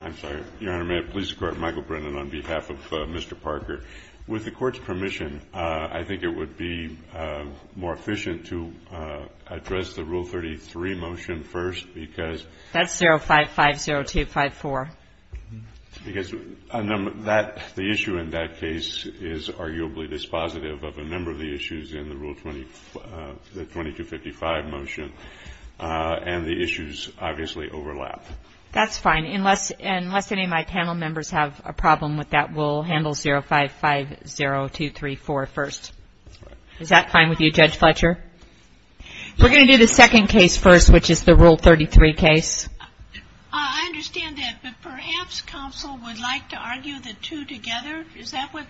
I'm sorry, Your Honor, may it please the Court, Michael Brennan on behalf of Mr. Parker. With the Court's permission, I think it would be more efficient to address the Rule 33 motion first, because That's 055-0254. Because the issue in that case is arguably dispositive of a number of the issues in the Rule 2255 motion, and the issues obviously overlap. That's fine. Unless any of my panel members have a problem with that, we'll handle 055-0234 first. Is that fine with you, Judge Fletcher? We're going to do the second case first, which is the Rule 33 case. I understand that, but perhaps counsel would like to argue the two together. Is that what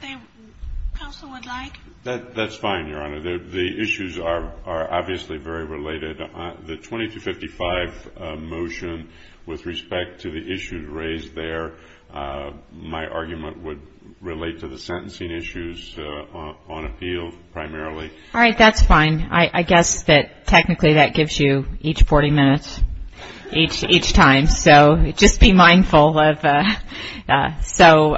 counsel would like? That's fine, Your Honor. The issues are obviously very related. The 2255 motion, with respect to the issues raised there, my argument would relate to the sentencing issues on appeal, primarily. All right, that's fine. I guess that technically that gives you each 40 minutes each time. So just be mindful of that. So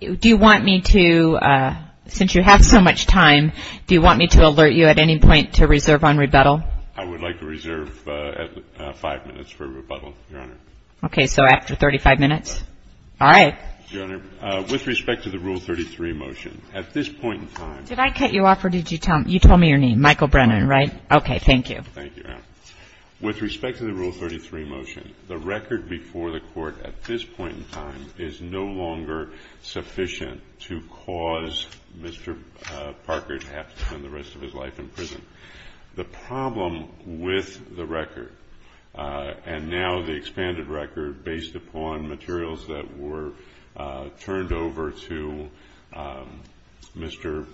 do you want me to, since you have so much time, do you want me to alert you at any point to reserve on rebuttal? I would like to reserve five minutes for rebuttal, Your Honor. Okay, so after 35 minutes? All right. Your Honor, with respect to the Rule 33 motion, at this point in time Did I cut you off, or did you tell me your name? Michael Brennan, right? Okay, thank you. With respect to the Rule 33 motion, the record before the Court at this point in time is no longer sufficient to cause Mr. Parker to have to spend the rest of his life in prison. The problem with the record, and now the expanded record based upon materials that were turned over to Mr.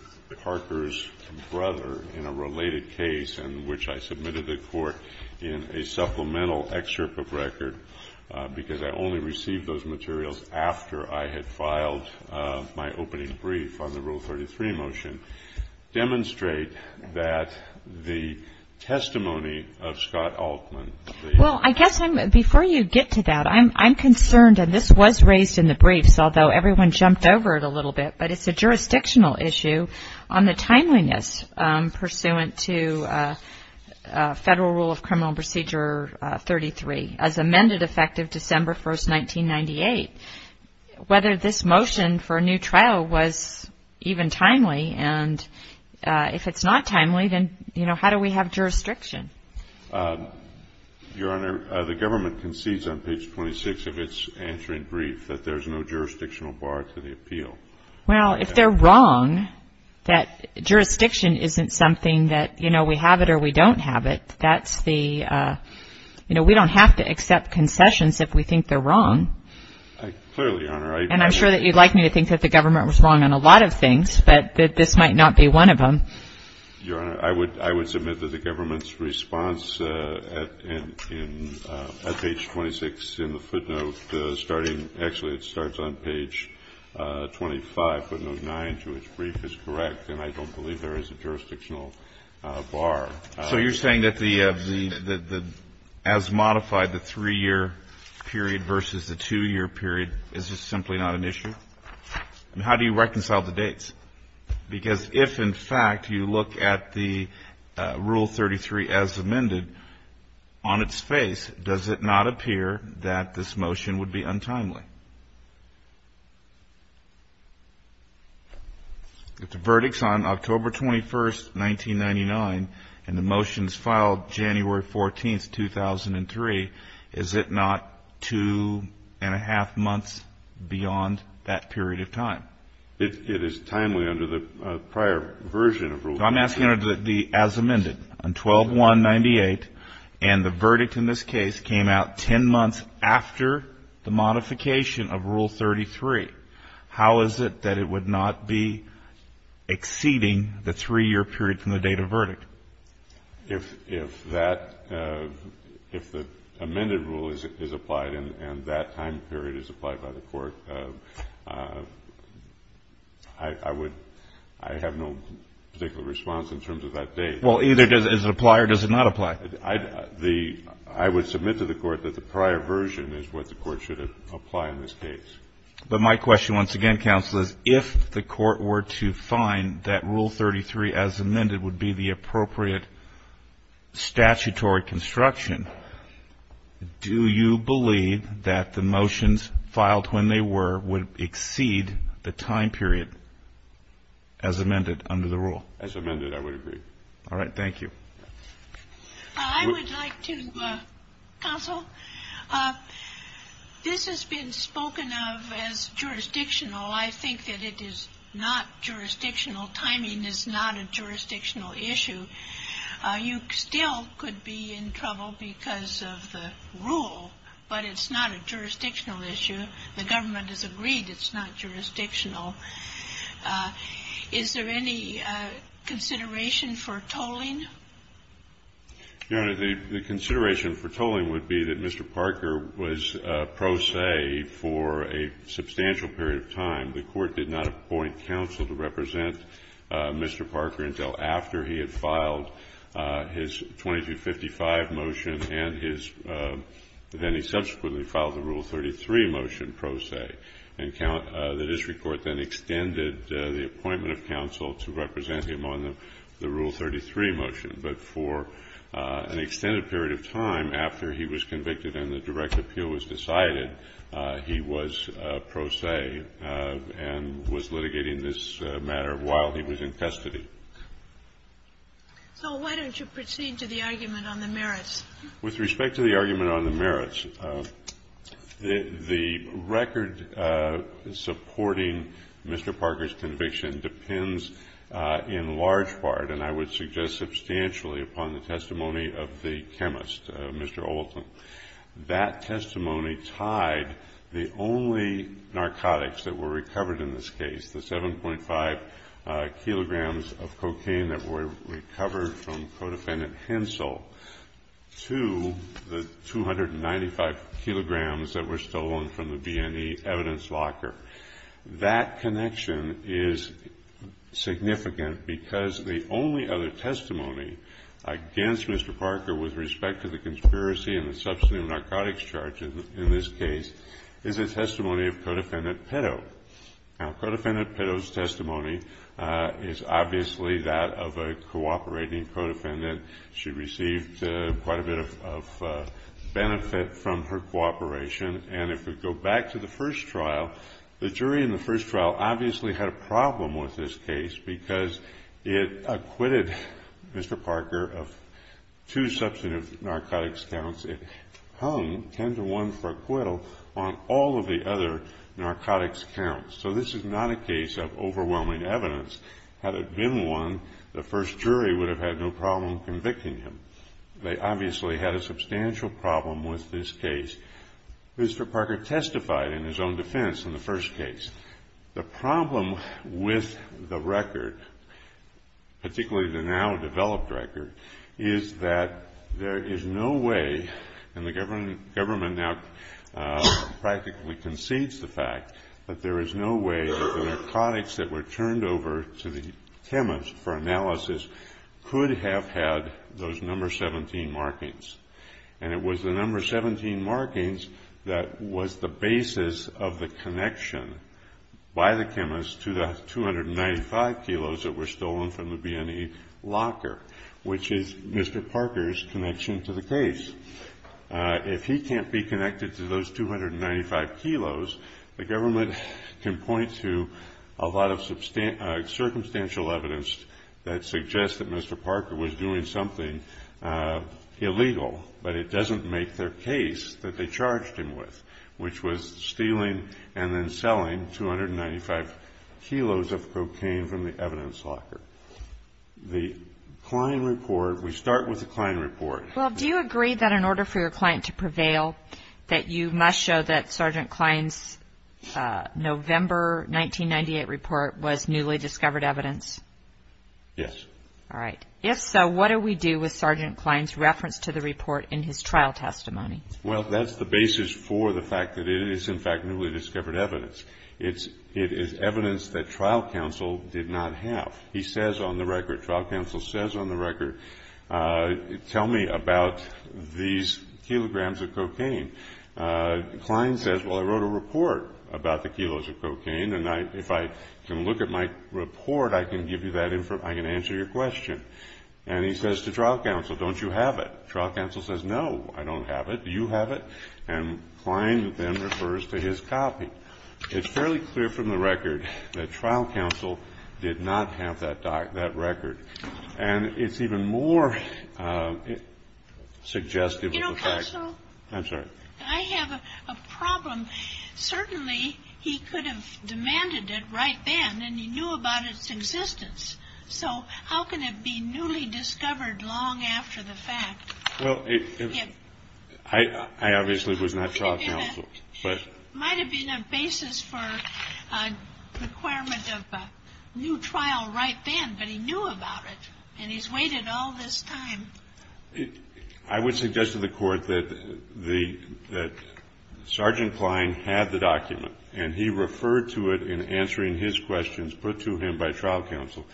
Parker's brother in a related case in which I submitted the court in a supplemental excerpt of record because I only received those materials after I had filed my opening brief on the Rule 33 motion, demonstrate that the testimony of Scott Altman Well, I guess before you get to that, I'm concerned, and this was raised in the briefs, although everyone jumped over it a little bit, but it's a jurisdictional issue on the timeliness pursuant to Federal Rule of Criminal Procedure 33 as amended effective December 1, 1998. Whether this motion for a new trial was even timely, and if it's not timely, then how do we have jurisdiction? Your Honor, the government concedes on page 26 of its answering brief that there's no jurisdictional bar to the appeal. Well, if they're wrong, that jurisdiction isn't something that, you know, we have it or we don't have it. That's the, you know, we don't have to accept concessions if we think they're wrong. Clearly, Your Honor. And I'm sure that you'd like me to think that the government was wrong on a lot of things, but that this might not be one of them. Your Honor, I would submit that the government's response at page 26 in the footnote starting, actually it starts on page 25, footnote 9, to its brief, is correct, and I don't believe there is a jurisdictional bar. So you're saying that the, as modified, the 3-year period versus the 2-year period is just simply not an issue? Because if, in fact, you look at the Rule 33 as amended, on its face, does it not appear that this motion would be untimely? The verdict's on October 21, 1999, and the motion's filed January 14, 2003. Is it not two and a half months beyond that period of time? It is timely under the prior version of Rule 33. I'm asking under the as amended, on 12-1-98, and the verdict in this case came out 10 months after the modification of Rule 33. How is it that it would not be exceeding the 3-year period from the date of verdict? If that, if the amended rule is applied and that time period is applied by the Court, I would, I have no particular response in terms of that date. Well, either does it apply or does it not apply? I would submit to the Court that the prior version is what the Court should apply in this case. But my question, once again, Counsel, is if the Court were to find that Rule 33 as amended would be the appropriate statutory construction, do you believe that the motions filed when they were would exceed the time period as amended under the rule? As amended, I would agree. All right. Thank you. I would like to, Counsel, this has been spoken of as jurisdictional. I think that it is not jurisdictional. Timing is not a jurisdictional issue. You still could be in trouble because of the rule, but it's not a jurisdictional issue. The government has agreed it's not jurisdictional. Is there any consideration for tolling? Your Honor, the consideration for tolling would be that Mr. Parker was pro se for a substantial period of time. The Court did not appoint Counsel to represent Mr. Parker until after he had filed his 2255 motion and his, then he subsequently filed the Rule 33 motion pro se. And the district court then extended the appointment of Counsel to represent him on the Rule 33 motion. But for an extended period of time after he was convicted and the direct appeal was decided, he was pro se and was litigating this matter while he was in custody. So why don't you proceed to the argument on the merits? With respect to the argument on the merits, the record supporting Mr. Parker's conviction depends in large part, and I would suggest substantially, upon the testimony of the chemist, Mr. Oulton. That testimony tied the only narcotics that were recovered in this case, the 7.5 kilograms of cocaine that were recovered from Codefendant Hensel, to the 295 kilograms that were stolen from the B&E evidence locker. That connection is significant because the only other testimony against Mr. Parker with respect to the conspiracy and the substantive narcotics charge in this case is the testimony of Codefendant Petto. Now, Codefendant Petto's testimony is obviously that of a cooperating codefendant. She received quite a bit of benefit from her cooperation. And if we go back to the first trial, the jury in the first trial obviously had a problem with this case because it acquitted Mr. Parker of two substantive narcotics counts. It hung 10 to 1 for acquittal on all of the other narcotics counts. So this is not a case of overwhelming evidence. Had it been one, the first jury would have had no problem convicting him. They obviously had a substantial problem with this case. Mr. Parker testified in his own defense in the first case. The problem with the record, particularly the now-developed record, is that there is no way, and the government now practically concedes the fact, that there is no way that the narcotics that were turned over to the chemist for analysis could have had those number 17 markings. And it was the number 17 markings that was the basis of the connection by the chemist to the 295 kilos that were stolen from the B&E locker, which is Mr. Parker's connection to the case. If he can't be connected to those 295 kilos, the government can point to a lot of circumstantial evidence that suggests that Mr. Parker was doing something illegal, but it doesn't make their case that they charged him with, which was stealing and then selling 295 kilos of cocaine from the evidence locker. The Klein report, we start with the Klein report. Well, do you agree that in order for your client to prevail, that you must show that Sergeant Klein's November 1998 report was newly discovered evidence? Yes. All right. If so, what do we do with Sergeant Klein's reference to the report in his trial testimony? Well, that's the basis for the fact that it is, in fact, newly discovered evidence. It is evidence that trial counsel did not have. He says on the record, trial counsel says on the record, tell me about these kilograms of cocaine. Klein says, well, I wrote a report about the kilos of cocaine, and if I can look at my report, I can give you that information, I can answer your question. And he says to trial counsel, don't you have it? Trial counsel says, no, I don't have it. Do you have it? And Klein then refers to his copy. It's fairly clear from the record that trial counsel did not have that record. And it's even more suggestive of the fact. You know, counsel. I'm sorry. I have a problem. Certainly he could have demanded it right then, and he knew about its existence. So how can it be newly discovered long after the fact? Well, I obviously was not trial counsel. It might have been a basis for a requirement of new trial right then, but he knew about it. And he's waited all this time. I would suggest to the Court that Sergeant Klein had the document, and he referred to it in answering his questions put to him by trial counsel.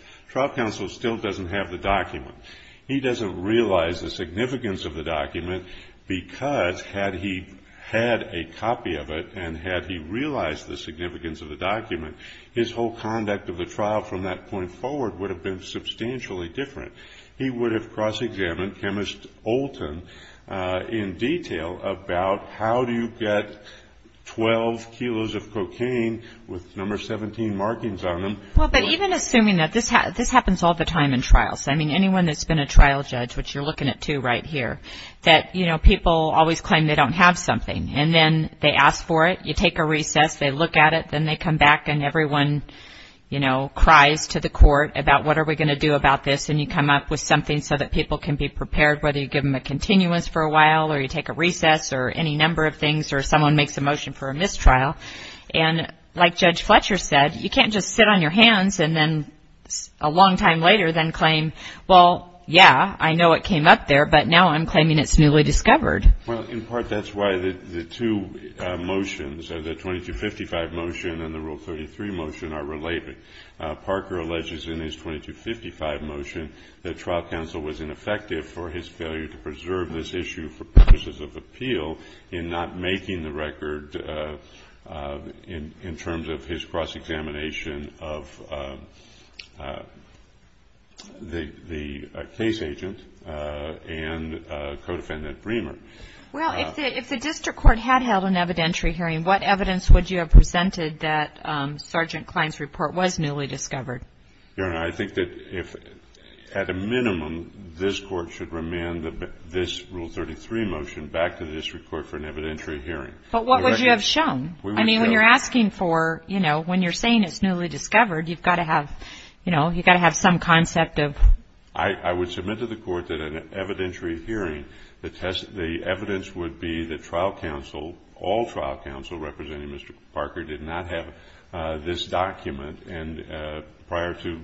He doesn't realize the significance of the document because had he had a copy of it and had he realized the significance of the document, his whole conduct of the trial from that point forward would have been substantially different. He would have cross-examined Chemist Olton in detail about how do you get 12 kilos of cocaine with number 17 markings on them. Well, but even assuming that this happens all the time in trials. I mean, anyone that's been a trial judge, which you're looking at two right here, that, you know, people always claim they don't have something. And then they ask for it, you take a recess, they look at it, then they come back and everyone, you know, cries to the Court about what are we going to do about this, and you come up with something so that people can be prepared, whether you give them a continuance for a while or you take a recess or any number of things or someone makes a motion for a mistrial. And like Judge Fletcher said, you can't just sit on your hands and then a long time later then claim, well, yeah, I know it came up there, but now I'm claiming it's newly discovered. Well, in part that's why the two motions, the 2255 motion and the Rule 33 motion are related. Parker alleges in his 2255 motion that trial counsel was ineffective for his failure to preserve this issue for purposes of appeal in not making the record in terms of his cross-examination of the case agent and co-defendant Bremer. Well, if the district court had held an evidentiary hearing, what evidence would you have presented that Sergeant Klein's report was newly discovered? Your Honor, I think that if at a minimum this Court should remand this Rule 33 motion back to the district court for an evidentiary hearing. But what would you have shown? I mean, when you're asking for, you know, when you're saying it's newly discovered, you've got to have, you know, you've got to have some concept of. I would submit to the Court that an evidentiary hearing, the evidence would be that trial counsel, all trial counsel representing Mr. Parker did not have this document prior to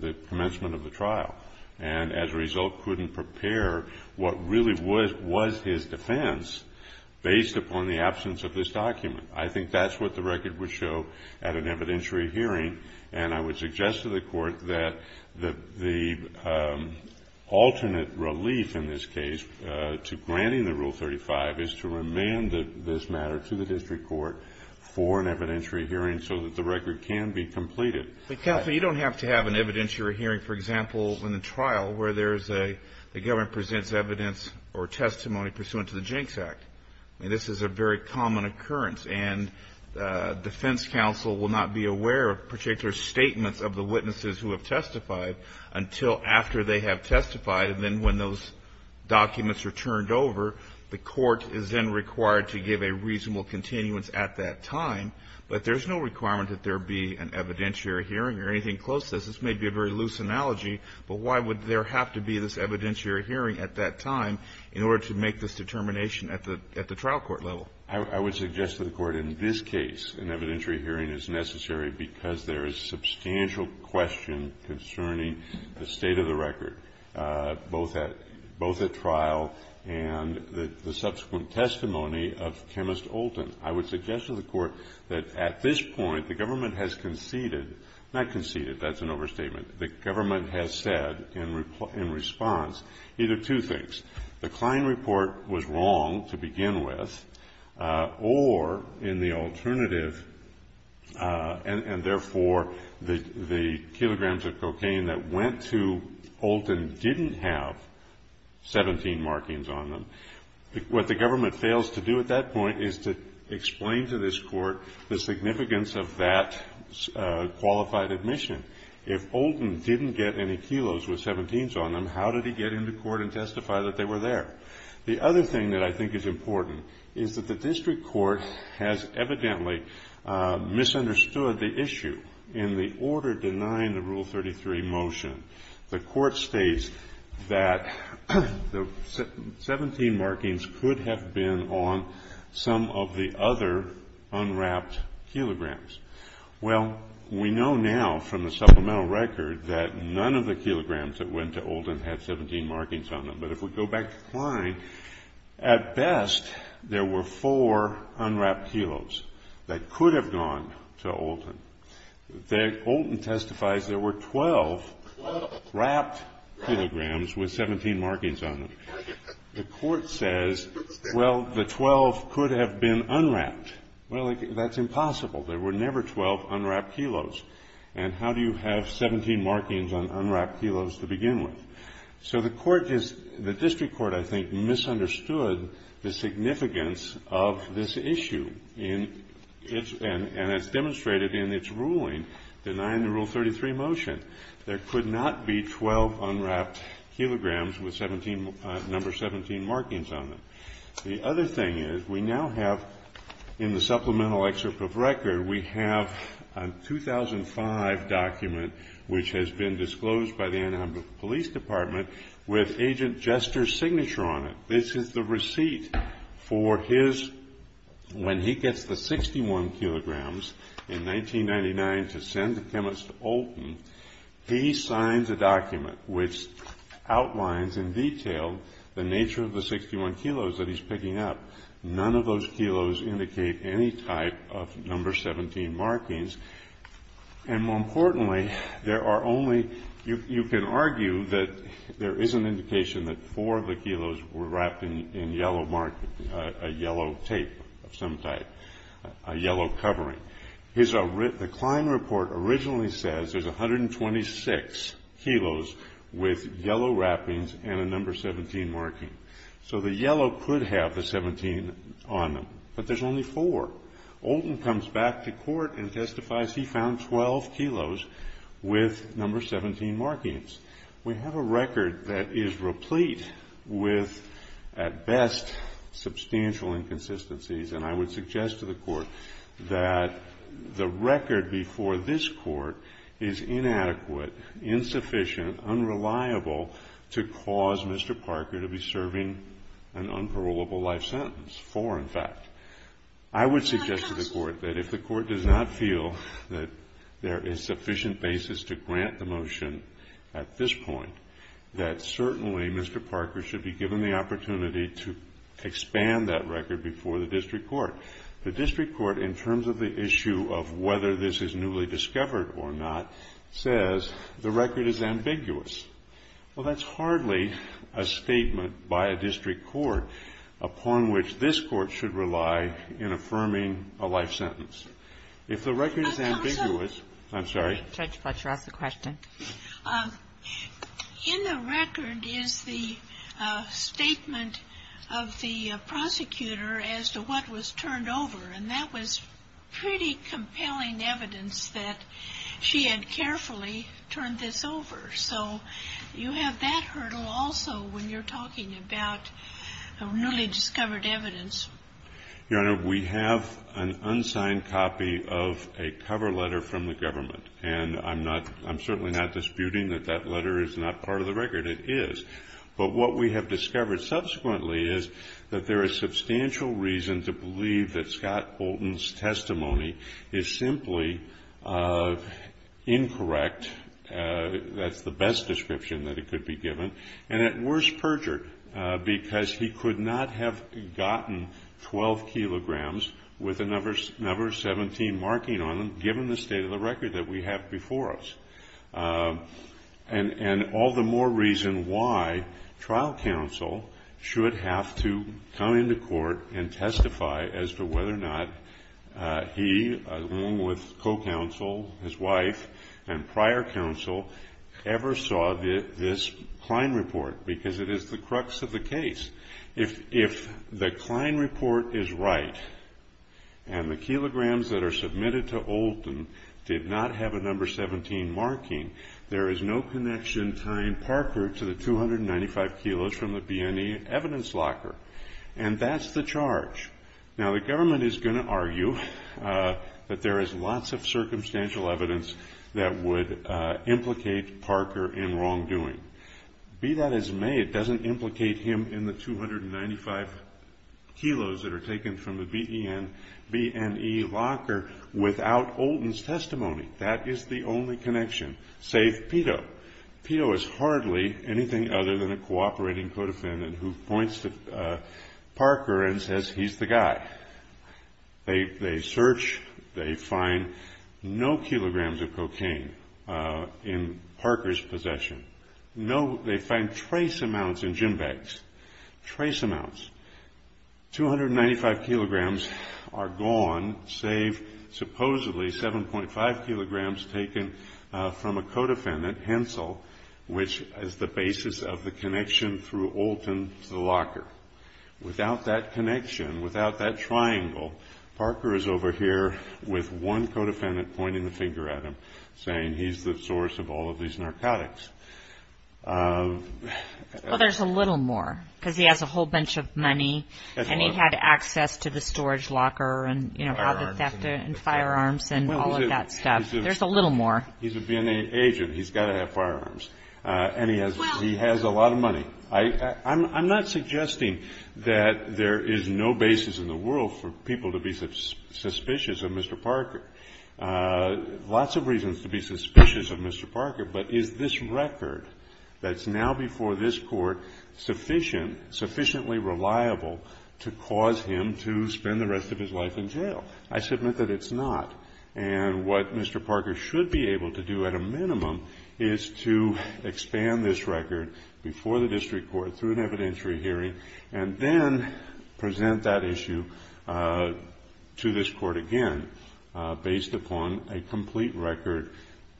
the commencement of the trial, and as a result couldn't prepare what really was his defense based upon the absence of this document. I think that's what the record would show at an evidentiary hearing, and I would suggest to the Court that the alternate relief in this case to granting the Rule 35 is to remand this matter to the district court for an evidentiary hearing so that the record can be completed. But, Kathleen, you don't have to have an evidentiary hearing, for example, in a trial where there's a government presents evidence or testimony pursuant to the Jinx Act. I mean, this is a very common occurrence, and defense counsel will not be aware of particular statements of the witnesses who have testified until after they have testified, and then when those documents are turned over, the court is then required to give a reasonable continuance at that time. But there's no requirement that there be an evidentiary hearing or anything close to this. This may be a very loose analogy, but why would there have to be this evidentiary hearing at that time in order to make this determination at the trial court level? I would suggest to the Court in this case an evidentiary hearing is necessary because there is substantial question concerning the state of the record, both at trial and the subsequent testimony of Chemist Olton. I would suggest to the Court that at this point the government has conceded, not conceded, that's an overstatement, the government has said in response either two things. The Klein report was wrong to begin with, or in the alternative, and therefore the kilograms of cocaine that went to Olton didn't have 17 markings on them. What the government fails to do at that point is to explain to this Court the significance of that qualified admission. If Olton didn't get any kilos with 17s on them, how did he get into court and testify that they were there? The other thing that I think is important is that the district court has evidently misunderstood the issue in the order denying the Rule 33 motion. The Court states that the 17 markings could have been on some of the other unwrapped kilograms. Well, we know now from the supplemental record that none of the kilograms that went to Olton had 17 markings on them. But if we go back to Klein, at best there were four unwrapped kilos that could have gone to Olton. Olton testifies there were 12 wrapped kilograms with 17 markings on them. The Court says, well, the 12 could have been unwrapped. Well, that's impossible. There were never 12 unwrapped kilos. And how do you have 17 markings on unwrapped kilos to begin with? So the District Court, I think, misunderstood the significance of this issue. And as demonstrated in its ruling denying the Rule 33 motion, there could not be 12 unwrapped kilograms with number 17 markings on them. The other thing is we now have in the supplemental excerpt of record, we have a 2005 document which has been disclosed by the Anaheim Police Department with Agent Jester's signature on it. This is the receipt for his, when he gets the 61 kilograms in 1999 to send the chemist to Olton, he signs a document which outlines in detail the nature of the 61 kilos that he's picking up. None of those kilos indicate any type of number 17 markings. And more importantly, there are only, you can argue that there is an indication that four of the kilos were wrapped in yellow tape of some type, a yellow covering. The Klein report originally says there's 126 kilos with yellow wrappings and a number 17 marking. So the yellow could have the 17 on them. But there's only four. Olton comes back to court and testifies he found 12 kilos with number 17 markings. We have a record that is replete with, at best, substantial inconsistencies. And I would suggest to the court that the record before this court is inadequate, insufficient, unreliable to cause Mr. Parker to be serving an unparolable life sentence, four in fact. I would suggest to the court that if the court does not feel that there is sufficient basis to grant the motion at this point, that certainly Mr. Parker should be given the opportunity to expand that record before the district court. The district court, in terms of the issue of whether this is newly discovered or not, says the record is ambiguous. Well, that's hardly a statement by a district court upon which this Court should rely in affirming a life sentence. If the record is ambiguous, I'm sorry. Judge Fletcher, ask the question. In the record is the statement of the prosecutor as to what was turned over. And that was pretty compelling evidence that she had carefully turned this over. So you have that hurdle also when you're talking about newly discovered evidence. Your Honor, we have an unsigned copy of a cover letter from the government. And I'm certainly not disputing that that letter is not part of the record. It is. But what we have discovered subsequently is that there is substantial reason to believe that Scott Bolton's testimony is simply incorrect. That's the best description that it could be given. And at worst, perjured, because he could not have gotten 12 kilograms with a number 17 marking on them, given the state of the record that we have before us. And all the more reason why trial counsel should have to come into court and testify as to whether or not he, along with co-counsel, his wife, and prior counsel, ever saw this Klein report. Because it is the crux of the case. If the Klein report is right and the kilograms that are submitted to Olton did not have a number 17 marking, there is no connection tying Parker to the 295 kilos from the BNE evidence locker. And that's the charge. Now, the government is going to argue that there is lots of circumstantial evidence that would implicate Parker in wrongdoing. Be that as it may, it doesn't implicate him in the 295 kilos that are taken from the BNE locker without Olton's testimony. That is the only connection, save Peto. Peto is hardly anything other than a cooperating co-defendant who points to Parker and says he's the guy. They search. They find no kilograms of cocaine in Parker's possession. They find trace amounts in gym bags. Trace amounts. 295 kilograms are gone, save supposedly 7.5 kilograms taken from a co-defendant, Hensel, which is the basis of the connection through Olton to the locker. Without that connection, without that triangle, Parker is over here with one co-defendant pointing the finger at him, saying he's the source of all of these narcotics. Well, there's a little more because he has a whole bunch of money and he had access to the storage locker and, you know, all the firearms and all of that stuff. There's a little more. He's a BNE agent. He's got to have firearms. And he has a lot of money. I'm not suggesting that there is no basis in the world for people to be suspicious of Mr. Parker. Lots of reasons to be suspicious of Mr. Parker, but is this record that's now before this court sufficient, sufficiently reliable to cause him to spend the rest of his life in jail? I submit that it's not. And what Mr. Parker should be able to do at a minimum is to expand this record before the district court, through an evidentiary hearing, and then present that issue to this court again. Based upon a complete record,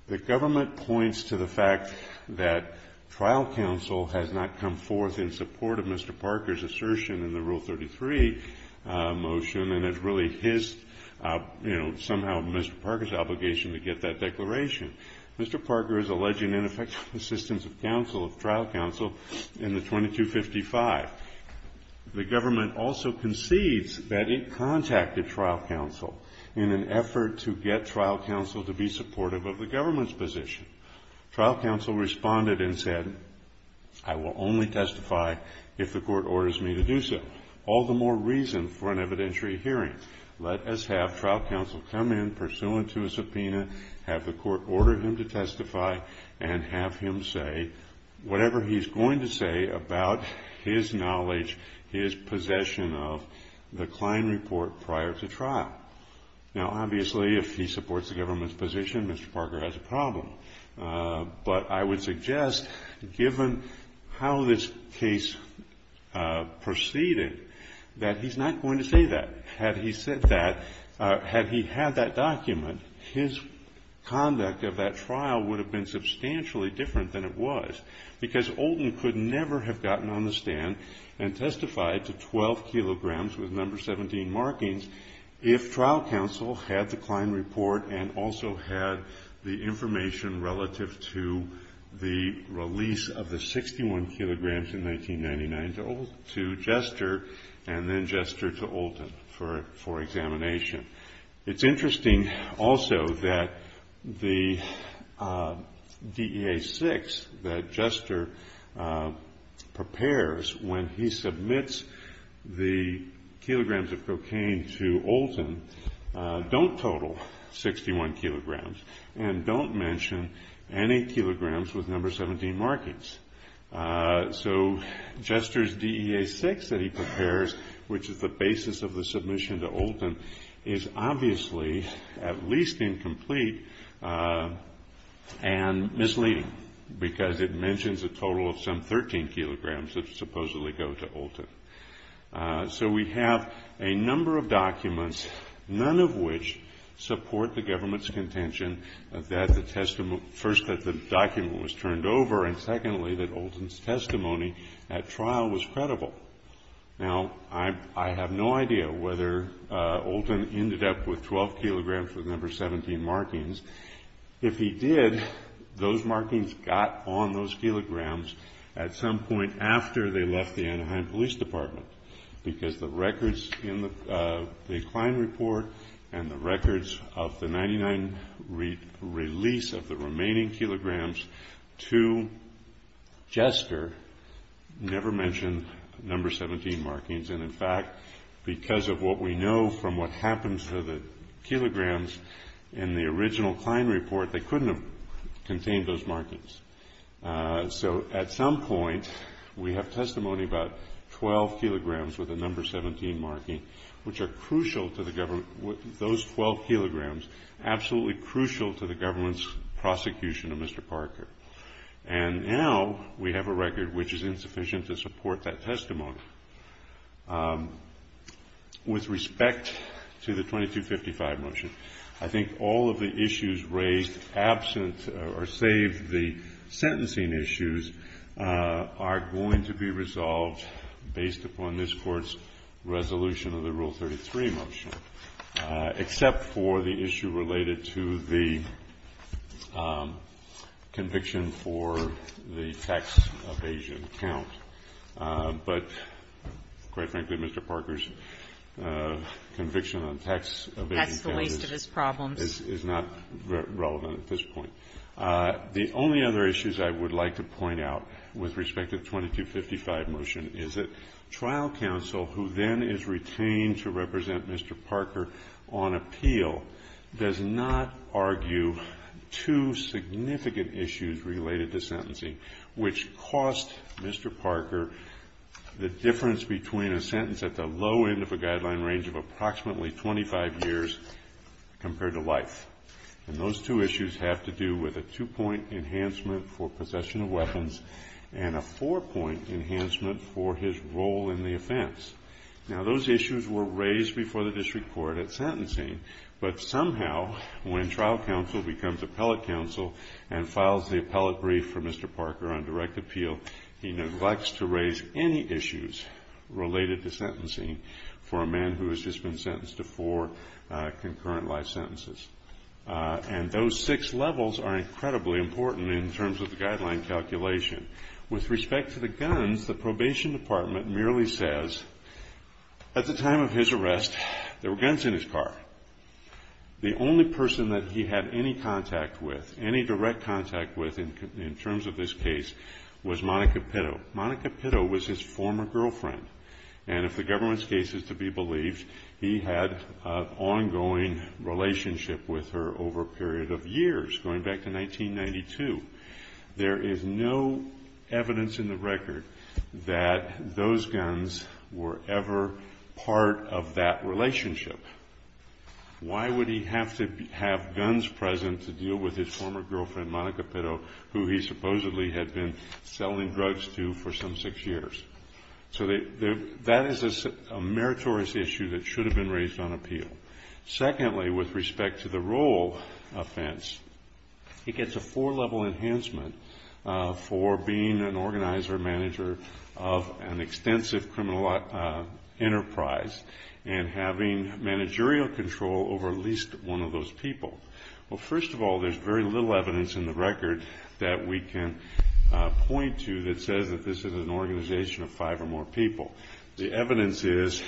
the government points to the fact that trial counsel has not come forth in support of Mr. Parker's assertion in the Rule 33 motion and it's really his, you know, somehow Mr. Parker's obligation to get that declaration. Mr. Parker is alleging ineffective assistance of trial counsel in the 2255. The government also concedes that it contacted trial counsel in an effort to get trial counsel to be supportive of the government's position. Trial counsel responded and said, I will only testify if the court orders me to do so. All the more reason for an evidentiary hearing. Let us have trial counsel come in pursuant to a subpoena, have the court order him to testify and have him say whatever he's going to say about his knowledge, his possession of the Klein report prior to trial. Now, obviously, if he supports the government's position, Mr. Parker has a problem. But I would suggest, given how this case proceeded, that he's not going to say that. Had he said that, had he had that document, his conduct of that trial would have been substantially different than it was. Because Olden could never have gotten on the stand and testified to 12 kilograms with number 17 markings, if trial counsel had the Klein report and also had the information relative to the release of the 61 kilograms in 1999 to Jester, and then Jester to Olden for examination. It's interesting also that the DEA-6 that Jester prepares when he submits the kilograms of cocaine to Olden don't total 61 kilograms and don't mention any kilograms with number 17 markings. So Jester's DEA-6 that he prepares, which is the basis of the submission to Olden, is obviously at least incomplete and misleading because it mentions a total of some 13 kilograms that supposedly go to Olden. So we have a number of documents, none of which support the government's contention that the document was turned over and secondly that Olden's testimony at trial was credible. Now, I have no idea whether Olden ended up with 12 kilograms with number 17 markings. If he did, those markings got on those kilograms at some point after they left the Anaheim Police Department because the records in the Klein report and the records of the 1999 release of the remaining kilograms to Jester never mention number 17 markings. And in fact, because of what we know from what happens to the kilograms in the original Klein report, they couldn't have contained those markings. So at some point, we have testimony about 12 kilograms with a number 17 marking, which are crucial to the government, those 12 kilograms absolutely crucial to the government's prosecution of Mr. Parker. And now we have a record which is insufficient to support that testimony. With respect to the 2255 motion, I think all of the issues raised absent or save the sentencing issues, are going to be resolved based upon this Court's resolution of the Rule 33 motion, except for the issue related to the conviction for the tax evasion count. But quite frankly, Mr. Parker's conviction on tax evasion count is not relevant at this point. The only other issues I would like to point out with respect to the 2255 motion is that trial counsel, who then is retained to represent Mr. Parker on appeal, does not argue two significant issues related to sentencing, which cost Mr. Parker the difference between a sentence at the low end of a guideline range of approximately 25 years compared to life. And those two issues have to do with a two-point enhancement for possession of weapons and a four-point enhancement for his role in the offense. Now those issues were raised before the District Court at sentencing, but somehow when trial counsel becomes appellate counsel and files the appellate brief for Mr. Parker on direct appeal, he neglects to raise any issues related to sentencing for a man who has just been sentenced to four concurrent life sentences. And those six levels are incredibly important in terms of the guideline calculation. With respect to the guns, the probation department merely says at the time of his arrest there were guns in his car. The only person that he had any contact with, any direct contact with in terms of this case, was Monica Pitto. Monica Pitto was his former girlfriend, and if the government's case is to be believed, he had an ongoing relationship with her over a period of years, going back to 1992. There is no evidence in the record that those guns were ever part of that relationship. Why would he have to have guns present to deal with his former girlfriend, Monica Pitto, who he supposedly had been selling drugs to for some six years? So that is a meritorious issue that should have been raised on appeal. Secondly, with respect to the role offense, he gets a four-level enhancement for being an organizer, manager of an extensive criminal enterprise and having managerial control over at least one of those people. Well, first of all, there is very little evidence in the record that we can point to that says that this is an organization of five or more people. The evidence is,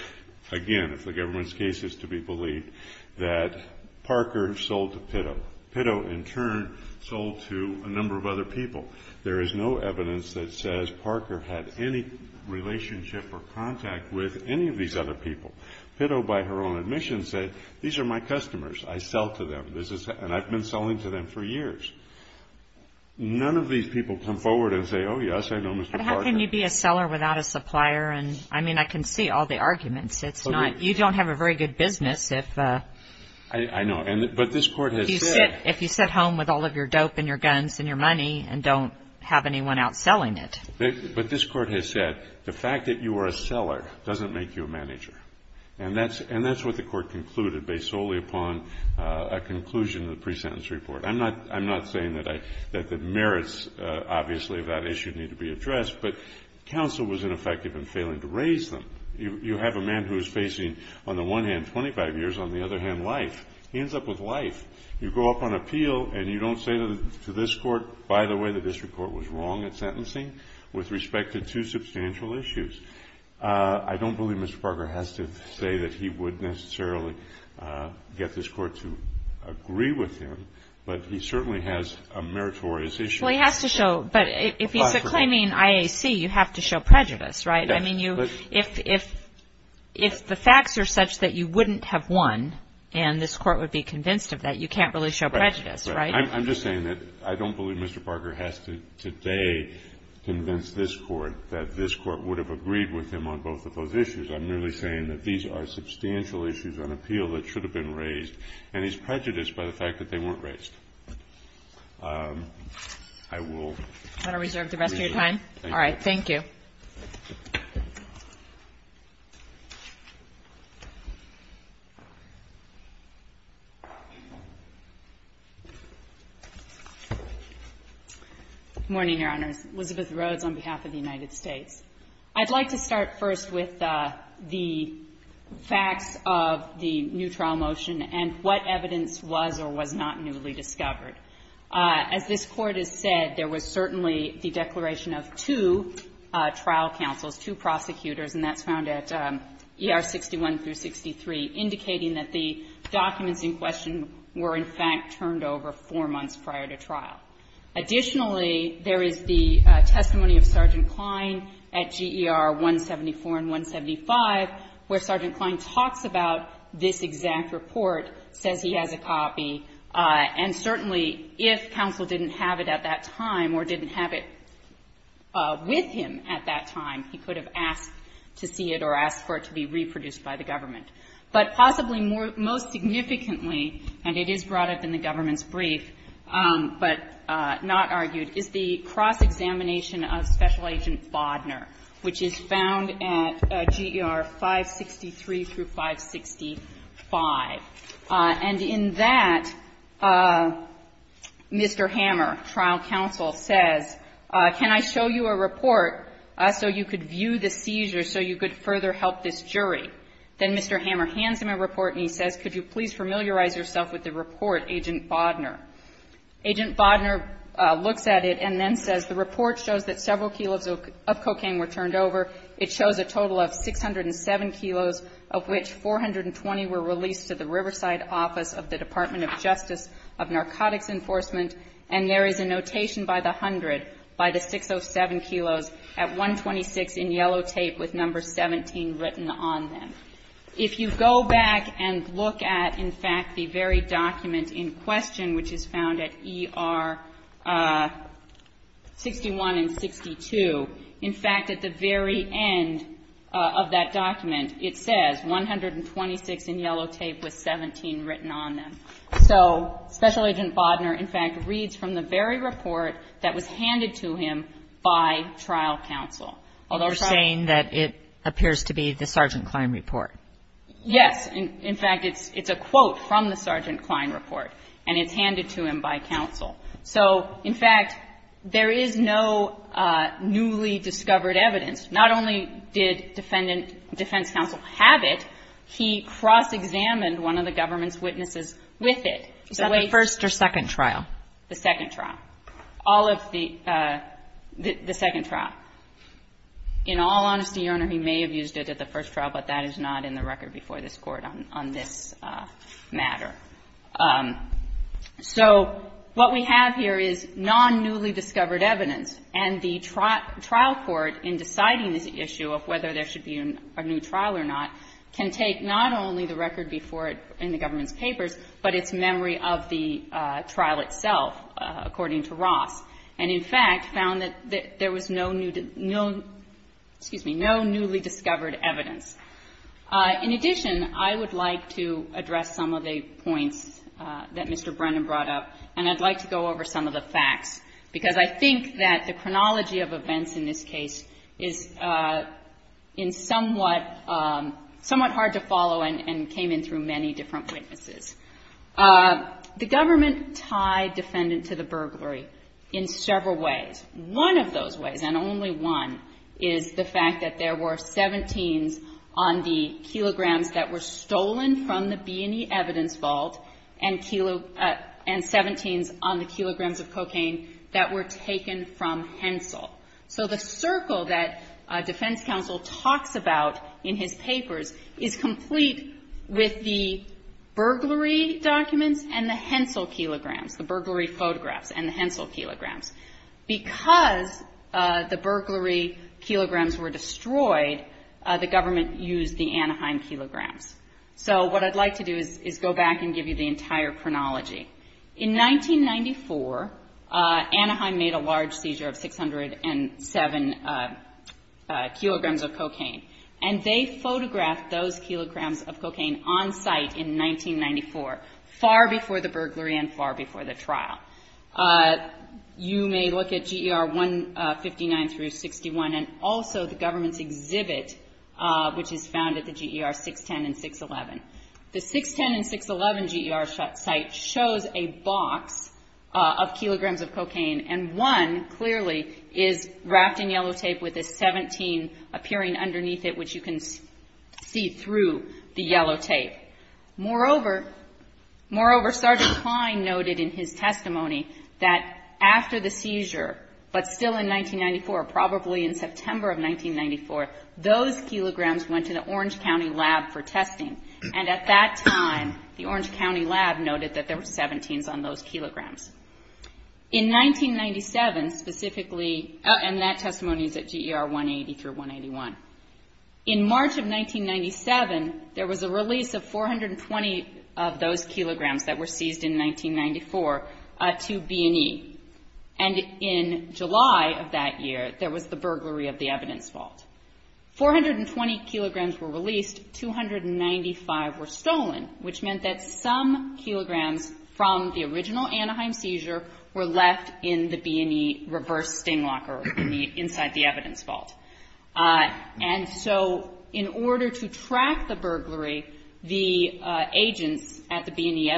again, if the government's case is to be believed, that Parker sold to Pitto. Pitto, in turn, sold to a number of other people. There is no evidence that says Parker had any relationship or contact with any of these other people. Pitto, by her own admission, said, these are my customers. I sell to them, and I've been selling to them for years. None of these people come forward and say, oh, yes, I know Mr. Parker. But how can you be a seller without a supplier? And, I mean, I can see all the arguments. You don't have a very good business if you sit home with all of your dope and your guns and your money and don't have anyone out selling it. But this Court has said the fact that you are a seller doesn't make you a manager. And that's what the Court concluded based solely upon a conclusion of the pre-sentence report. I'm not saying that the merits, obviously, of that issue need to be addressed. But counsel was ineffective in failing to raise them. You have a man who is facing, on the one hand, 25 years, on the other hand, life. He ends up with life. You go up on appeal, and you don't say to this Court, by the way, the district court was wrong at sentencing with respect to two substantial issues. I don't believe Mr. Parker has to say that he would necessarily get this Court to agree with him. But he certainly has a meritorious issue. Well, he has to show. But if he's claiming IAC, you have to show prejudice, right? I mean, if the facts are such that you wouldn't have won and this Court would be convinced of that, you can't really show prejudice, right? Right. I'm just saying that I don't believe Mr. Parker has to today convince this Court that this Court would have agreed with him on both of those issues. I'm merely saying that these are substantial issues on appeal that should have been raised. And he's prejudiced by the fact that they weren't raised. I will. I'm going to reserve the rest of your time. All right. Thank you. Good morning, Your Honors. Elizabeth Rhodes on behalf of the United States. I'd like to start first with the facts of the new trial motion and what evidence was or was not newly discovered. As this Court has said, there was certainly the declaration of two trial counsels, two prosecutors, and that's found at ER 61 through 63, indicating that the documents in question were in fact turned over four months prior to trial. Additionally, there is the testimony of Sergeant Klein at GER 174 and 175, where Sergeant Klein talks about this exact report, says he has a copy, and certainly if counsel didn't have it at that time or didn't have it with him at that time, he could have asked to see it or asked for it to be reproduced by the government. But possibly most significantly, and it is brought up in the government's brief but not argued, is the cross-examination of Special Agent Bodner, which is found at GER 563 through 565. And in that, Mr. Hammer, trial counsel, says, can I show you a report so you could view the seizure, so you could further help this jury? Then Mr. Hammer hands him a report and he says, could you please familiarize yourself with the report, Agent Bodner? Agent Bodner looks at it and then says, the report shows that several kilos of cocaine were turned over. It shows a total of 607 kilos, of which 420 were released to the Riverside office of the Department of Justice of Narcotics Enforcement. And there is a notation by the hundred, by the 607 kilos, at 126 in yellow tape with number 17 written on them. If you go back and look at, in fact, the very document in question, which is found at ER 61 and 62, in fact, at the very end of that document, it says 126 in yellow tape with 17 written on them. So Special Agent Bodner, in fact, reads from the very report that was handed to him by trial counsel. Although trial counsel... You're saying that it appears to be the Sergeant Klein report. Yes. In fact, it's a quote from the Sergeant Klein report, and it's handed to him by counsel. So, in fact, there is no newly discovered evidence. Not only did defense counsel have it, he cross-examined one of the government's witnesses with it. Is that the first or second trial? The second trial. All of the second trial. In all honesty, Your Honor, he may have used it at the first trial, but that is not in the record before this Court on this matter. So what we have here is non-newly discovered evidence. And the trial court, in deciding this issue of whether there should be a new trial or not, can take not only the record before it in the government's papers, but its memory of the trial itself, according to Ross, and, in fact, found that there was no newly discovered evidence. In addition, I would like to address some of the points that Mr. Brennan brought up, and I'd like to go over some of the facts, because I think that the chronology of events in this case is somewhat hard to follow and came in through many different witnesses. The government tied defendant to the burglary in several ways. One of those ways, and only one, is the fact that there were 17s on the kilograms that were stolen from the B&E Evidence Vault and 17s on the kilograms of cocaine that were taken from Hensel. So the circle that defense counsel talks about in his papers is complete with the burglary documents and the Hensel kilograms, the burglary photographs and the Hensel kilograms. Because the burglary kilograms were destroyed, the government used the Anaheim kilograms. So what I'd like to do is go back and give you the entire chronology. In 1994, Anaheim made a large seizure of 607 kilograms of cocaine, and they photographed those kilograms of cocaine on site in 1994, far before the burglary and far before the trial. You may look at GER 159 through 61 and also the government's exhibit, which is found at the GER 610 and 611. The 610 and 611 GER site shows a box of kilograms of cocaine, and one clearly is wrapped in yellow tape with a 17 appearing underneath it, which you can see through the yellow tape. Moreover, Sergeant Klein noted in his testimony that after the seizure, but still in 1994, probably in September of 1994, those kilograms went to the Orange County lab for testing. And at that time, the Orange County lab noted that there were 17s on those kilograms. In 1997, specifically, and that testimony is at GER 180 through 181, in March of 1997, there was a release of 420 of those kilograms that were seized in 1994 to B&E. And in July of that year, there was the burglary of the evidence vault. 420 kilograms were released, 295 were stolen, which meant that some kilograms from the original Anaheim seizure were left in the B&E reverse sting locker inside the evidence vault. And so in order to track the burglary, the agents at the B&E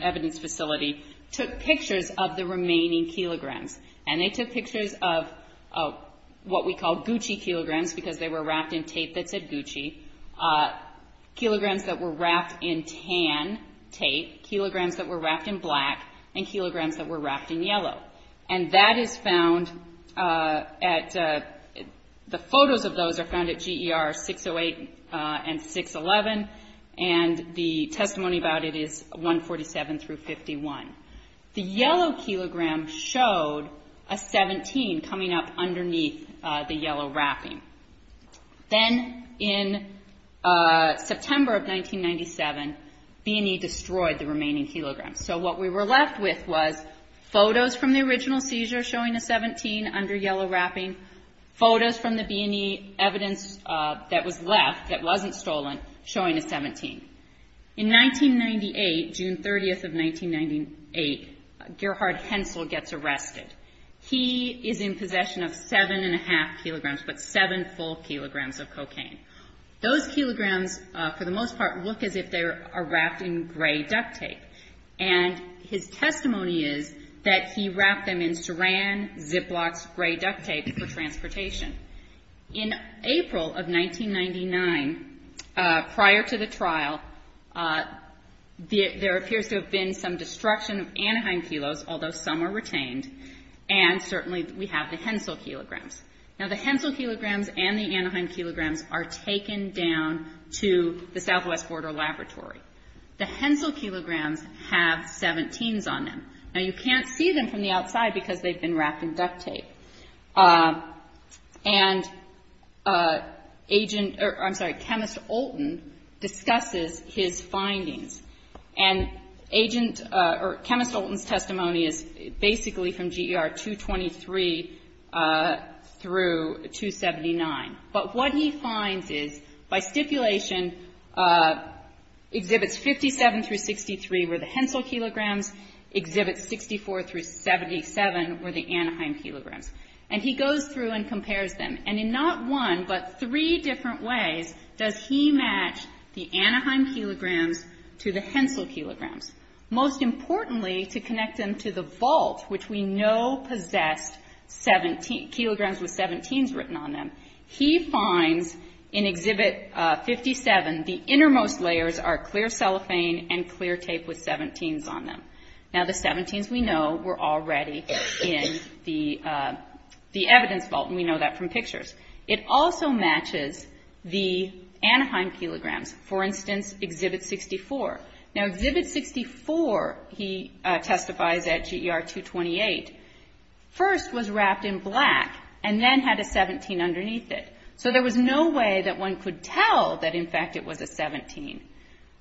evidence facility took pictures of the remaining kilograms. And they took pictures of what we call Gucci kilograms, because they were wrapped in tape that said Gucci, kilograms that were wrapped in tan tape, kilograms that were wrapped in black, and kilograms that were wrapped in yellow. And that is found at, the photos of those are found at GER 608 and 611, and the testimony about it is 147 through 51. The yellow kilogram showed a 17 coming up underneath the yellow wrapping. Then in September of 1997, B&E destroyed the remaining kilograms. So what we were left with was photos from the original seizure showing a 17 under yellow wrapping, photos from the B&E evidence that was left, that wasn't stolen, showing a 17. In 1998, June 30th of 1998, Gerhard Hensel gets arrested. He is in possession of seven and a half kilograms, but seven full kilograms of cocaine. Those kilograms, for the most part, look as if they are wrapped in gray duct tape. And his testimony is that he wrapped them in Saran, Ziploc, gray duct tape for transportation. In April of 1999, prior to the trial, there appears to have been some destruction of Anaheim kilos, although some are retained, and certainly we have the Hensel kilograms. Now, the Hensel kilograms and the Anaheim kilograms are taken down to the Southwest Border Laboratory. The Hensel kilograms have 17s on them. Now, you can't see them from the outside because they've been wrapped in duct tape. And agent or, I'm sorry, Chemist Olten discusses his findings. And agent or Chemist Olten's testimony is basically from GER 223 through 279. But what he finds is, by stipulation, Exhibits 57 through 63 were the Hensel kilograms, Exhibits 64 through 77 were the Anaheim kilograms. And he goes through and compares them. And in not one but three different ways does he match the Anaheim kilograms to the Hensel kilograms. Most importantly, to connect them to the vault, which we know possessed kilograms with 17s written on them, he finds in Exhibit 57 the innermost layers are clear cellophane and clear tape with 17s on them. Now, the 17s we know were already in the evidence vault, and we know that from pictures. It also matches the Anaheim kilograms. For instance, Exhibit 64. Now, Exhibit 64, he testifies at GER 228, first was wrapped in black and then had a 17 underneath it. So there was no way that one could tell that, in fact, it was a 17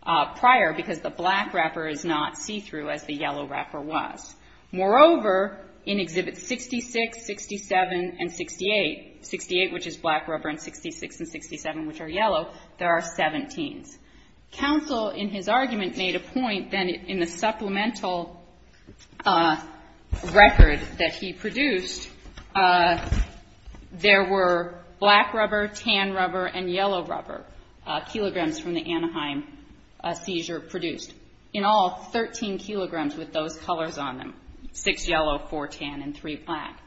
prior, because the black wrapper is not see-through as the yellow wrapper was. Moreover, in Exhibit 66, 67, and 68, 68, which is black rubber, and 66 and 67, which are yellow, there are 17s. Council, in his argument, made a point that in the supplemental record that he produced, there were black rubber, tan rubber, and yellow rubber, kilograms from the Anaheim seizure produced. In all, 13 kilograms with those colors on them, six yellow, four tan, and three black.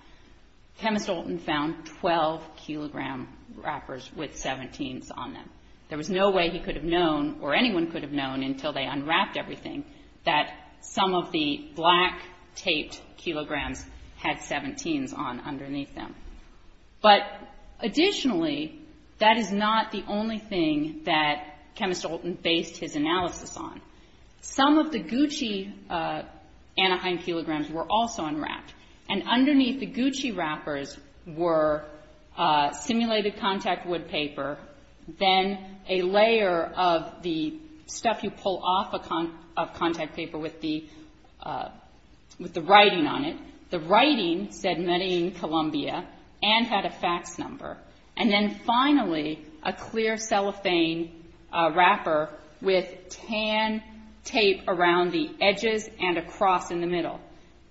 Thomas Dalton found 12-kilogram wrappers with 17s on them. There was no way he could have known, or anyone could have known until they unwrapped everything, that some of the black taped kilograms had 17s on underneath them. But additionally, that is not the only thing that Chemist Dalton based his analysis on. Some of the Gucci Anaheim kilograms were also unwrapped, and underneath the Gucci wrappers were simulated contact wood paper, then a layer of the stuff you pull off of contact paper with the writing on it. The writing said Medellín, Colombia, and had a fax number. And then finally, a clear cellophane wrapper with tan tape around the edges and a cross in the middle.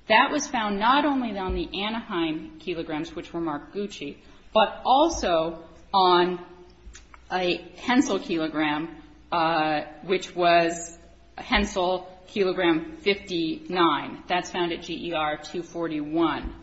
That was found not only on the Anaheim kilograms, which were marked Gucci, but also on a Hensel kilogram, which was Hensel kilogram 59. That's found at GER 241.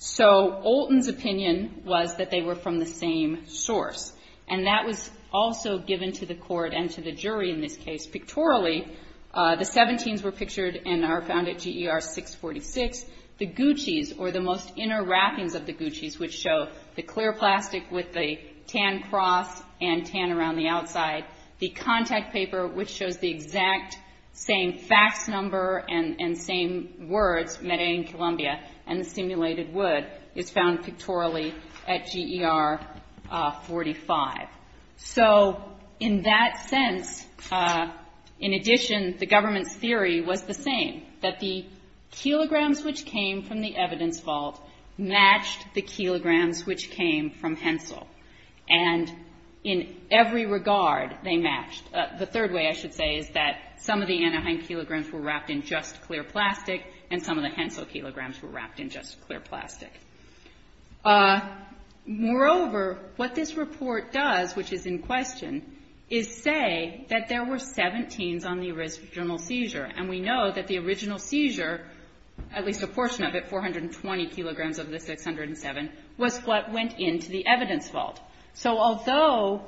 So Olton's opinion was that they were from the same source, and that was also given to the court and to the jury in this case. Pictorially, the 17s were pictured and are found at GER 646. The Gucci's, or the most inner wrappings of the Gucci's, which show the clear plastic with the tan cross and tan around the outside, the contact paper, which shows the exact same fax number and same words, Medellín, Colombia, and the simulated wood, is found pictorially at GER 45. So in that sense, in addition, the government's theory was the same, that the kilograms which came from the evidence vault matched the kilograms which came from Hensel. And in every regard, they matched. The third way I should say is that some of the Anaheim kilograms were wrapped in just clear plastic, and some of the Hensel kilograms were wrapped in just clear plastic. Moreover, what this report does, which is in question, is say that there were 17s on the original seizure, and we know that the original seizure, at least a portion of it, 420 kilograms of the 607, was what went into the evidence vault. So although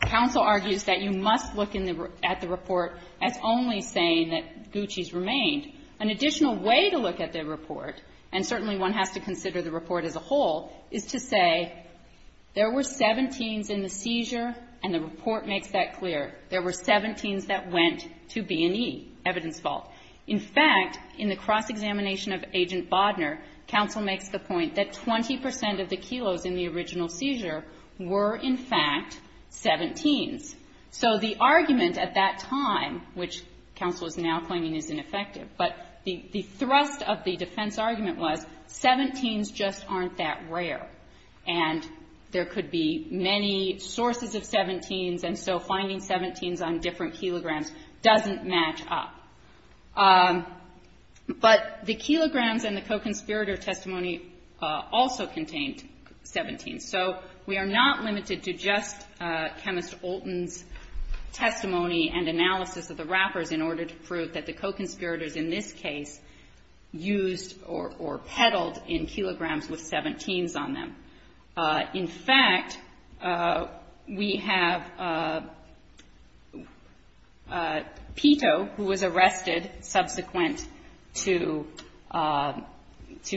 counsel argues that you must look at the report as only saying that Gucci's remained, an additional way to look at the report, and certainly one has to consider the report as a whole, is to say there were 17s in the seizure, and the report makes that clear. There were 17s that went to B&E, evidence vault. In fact, in the cross-examination of Agent Bodner, counsel makes the point that 20 percent of the kilos in the original seizure were, in fact, 17s. So the argument at that time, which counsel is now claiming is ineffective, but the thrust of the defense argument was 17s just aren't that rare, and there could be many sources of 17s, and so finding 17s on different kilograms doesn't match up. But the kilograms in the co-conspirator testimony also contained 17s. So we are not limited to just Chemist Olten's testimony and analysis of the wrappers in order to prove that the co-conspirators in this case used or peddled in kilograms with 17s on them. In fact, we have Pito, who was arrested subsequent to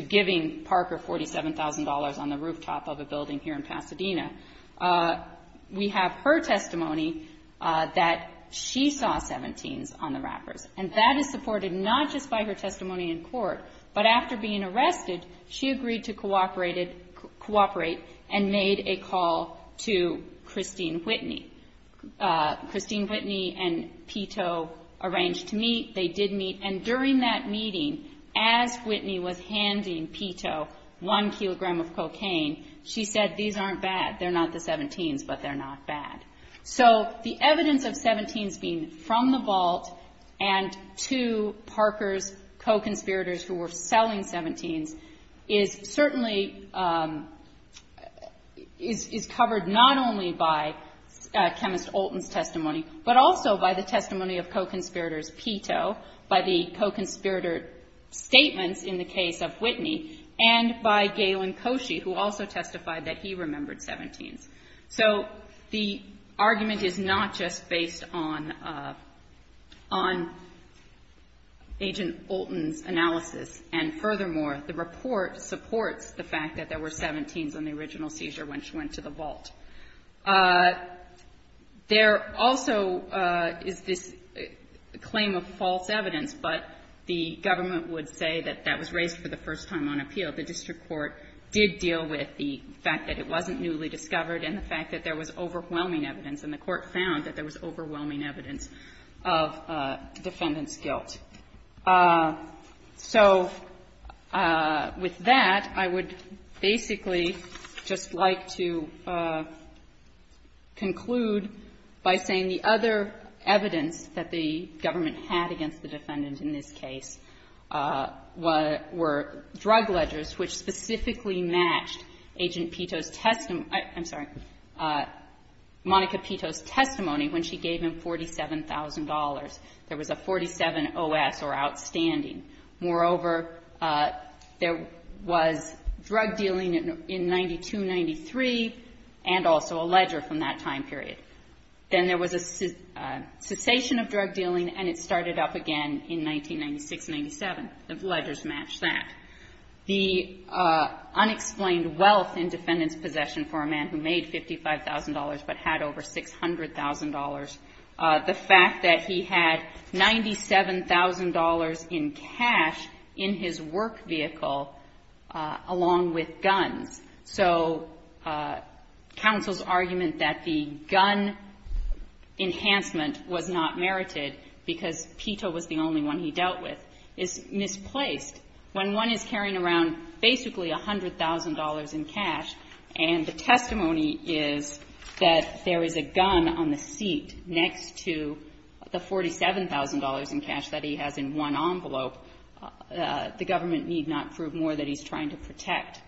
giving Parker $47,000 on the rooftop of a building here in Pasadena. We have her testimony that she saw 17s on the wrappers, and that is supported not just by her testimony in court, but after being arrested, she agreed to cooperate and made a call to Christine Whitney. Christine Whitney and Pito arranged to meet. They did meet, and during that meeting, as Whitney was handing Pito one kilogram of cocaine, she said, these aren't bad. They're not the 17s, but they're not bad. So the evidence of 17s being from the vault and to Parker's co-conspirators who were selling 17s is certainly covered not only by Chemist Olten's testimony, but also by the testimony of co-conspirators Pito, by the co-conspirator statements in the case of Whitney, and by Galen Koshy, who also testified that he remembered 17s. So the argument is not just based on Agent Olten's analysis, and furthermore, the report supports the fact that there were 17s on the original seizure when she went to the vault. There also is this claim of false evidence, but the government would say that that was raised for the first time on appeal. The district court did deal with the fact that it wasn't newly discovered and the fact that there was overwhelming evidence, and the court found that there was overwhelming evidence of defendant's guilt. So with that, I would basically just like to conclude by saying the other evidence that the government had against the defendant in this case were drug ledgers, which specifically matched Agent Pito's testimony — I'm sorry, Monica Pito's testimony when she gave him $47,000. There was a 47-OS or outstanding. Moreover, there was drug dealing in 92-93 and also a ledger from that time period. Then there was a cessation of drug dealing, and it started up again in 1996-97. The ledgers matched that. The unexplained wealth in defendant's possession for a man who made $55,000 but had over $600,000. The fact that he had $97,000 in cash in his work vehicle along with guns. So counsel's argument that the gun enhancement was not merited because Pito was the only one he dealt with is misplaced. When one is carrying around basically $100,000 in cash and the testimony is that there is a gun on the seat next to the $47,000 in cash that he has in one envelope, the government need not prove more that he's trying to protect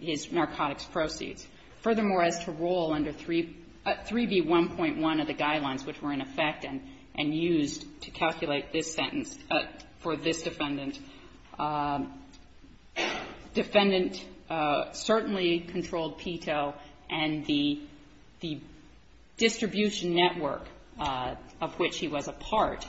his narcotics proceeds. Furthermore, as to rule under 3B1.1 of the guidelines which were in effect and used to calculate this sentence for this defendant, defendant certainly controlled Pito, and the distribution network of which he was a part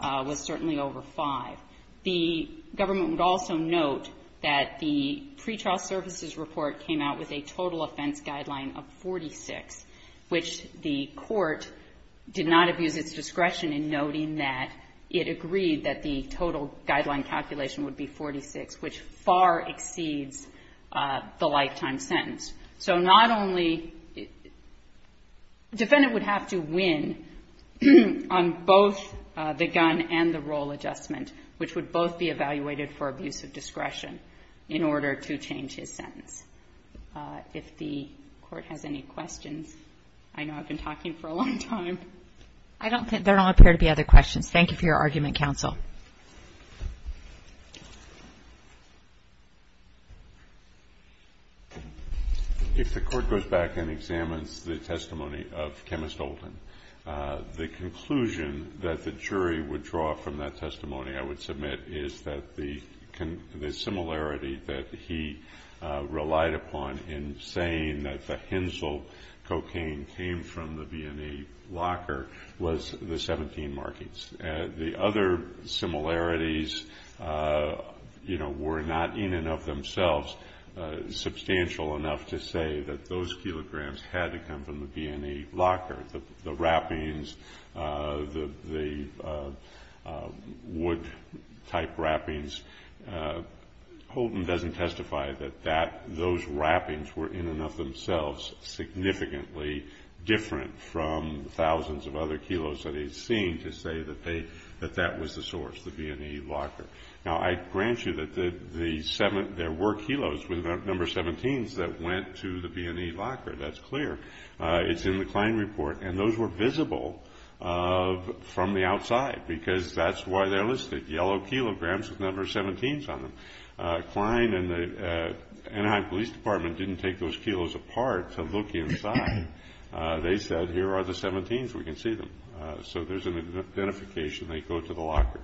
was certainly overfined. The government would also note that the pretrial services report came out with a total offense guideline of 46, which the court did not abuse its discretion in noting that it agreed that the total guideline calculation would be 46, which far exceeds the lifetime sentence. So not only defendant would have to win on both the gun and the role adjustment, which would both be evaluated for abuse of discretion in order to change his sentence. If the court has any questions, I know I've been talking for a long time. There don't appear to be other questions. Thank you for your argument, counsel. If the court goes back and examines the testimony of Chemist Olden, the conclusion that the jury would draw from that testimony, I would submit, is that the similarity that he relied upon in saying that the Hensel cocaine came from the B&E locker was the 17 markings. The other similarities were not in and of themselves substantial enough to say that those kilograms had to come from the B&E locker. The wrappings, the wood-type wrappings, Olden doesn't testify that those wrappings were in and of themselves significantly different from thousands of other kilos that he's seen to say that that was the source, the B&E locker. Now, I grant you that there were kilos with the number 17s that went to the B&E locker. That's clear. It's in the Klein report. And those were visible from the outside, because that's why they're listed, yellow kilograms with number 17s on them. Klein and the Anaheim Police Department didn't take those kilos apart to look inside. They said, here are the 17s. We can see them. So there's an identification. They go to the locker.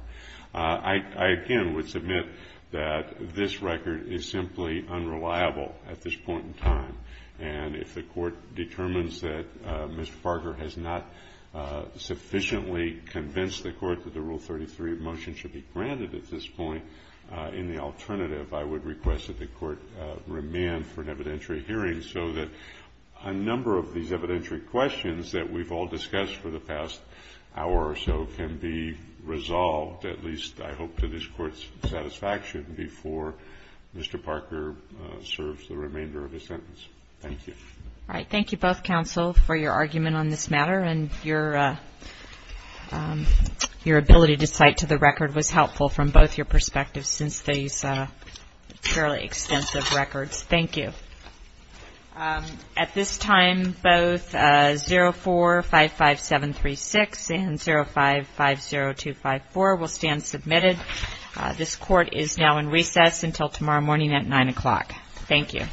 I, again, would submit that this record is simply unreliable at this point in time. And if the Court determines that Mr. Parker has not sufficiently convinced the Court that the Rule 33 motion should be granted at this point in the alternative, I would request that the Court remand for an evidentiary hearing so that a number of these evidentiary questions that we've all discussed for the past hour or so can be resolved, at least, I hope, to this Court's satisfaction before Mr. Parker serves the remainder of his sentence. Thank you. All right. Thank you both, counsel, for your argument on this matter. And your ability to cite to the record was helpful from both your perspectives since these are fairly extensive records. Thank you. At this time, both 04-55736 and 05-50254 will stand submitted. This Court is now in recess until tomorrow morning at 9 o'clock. Thank you.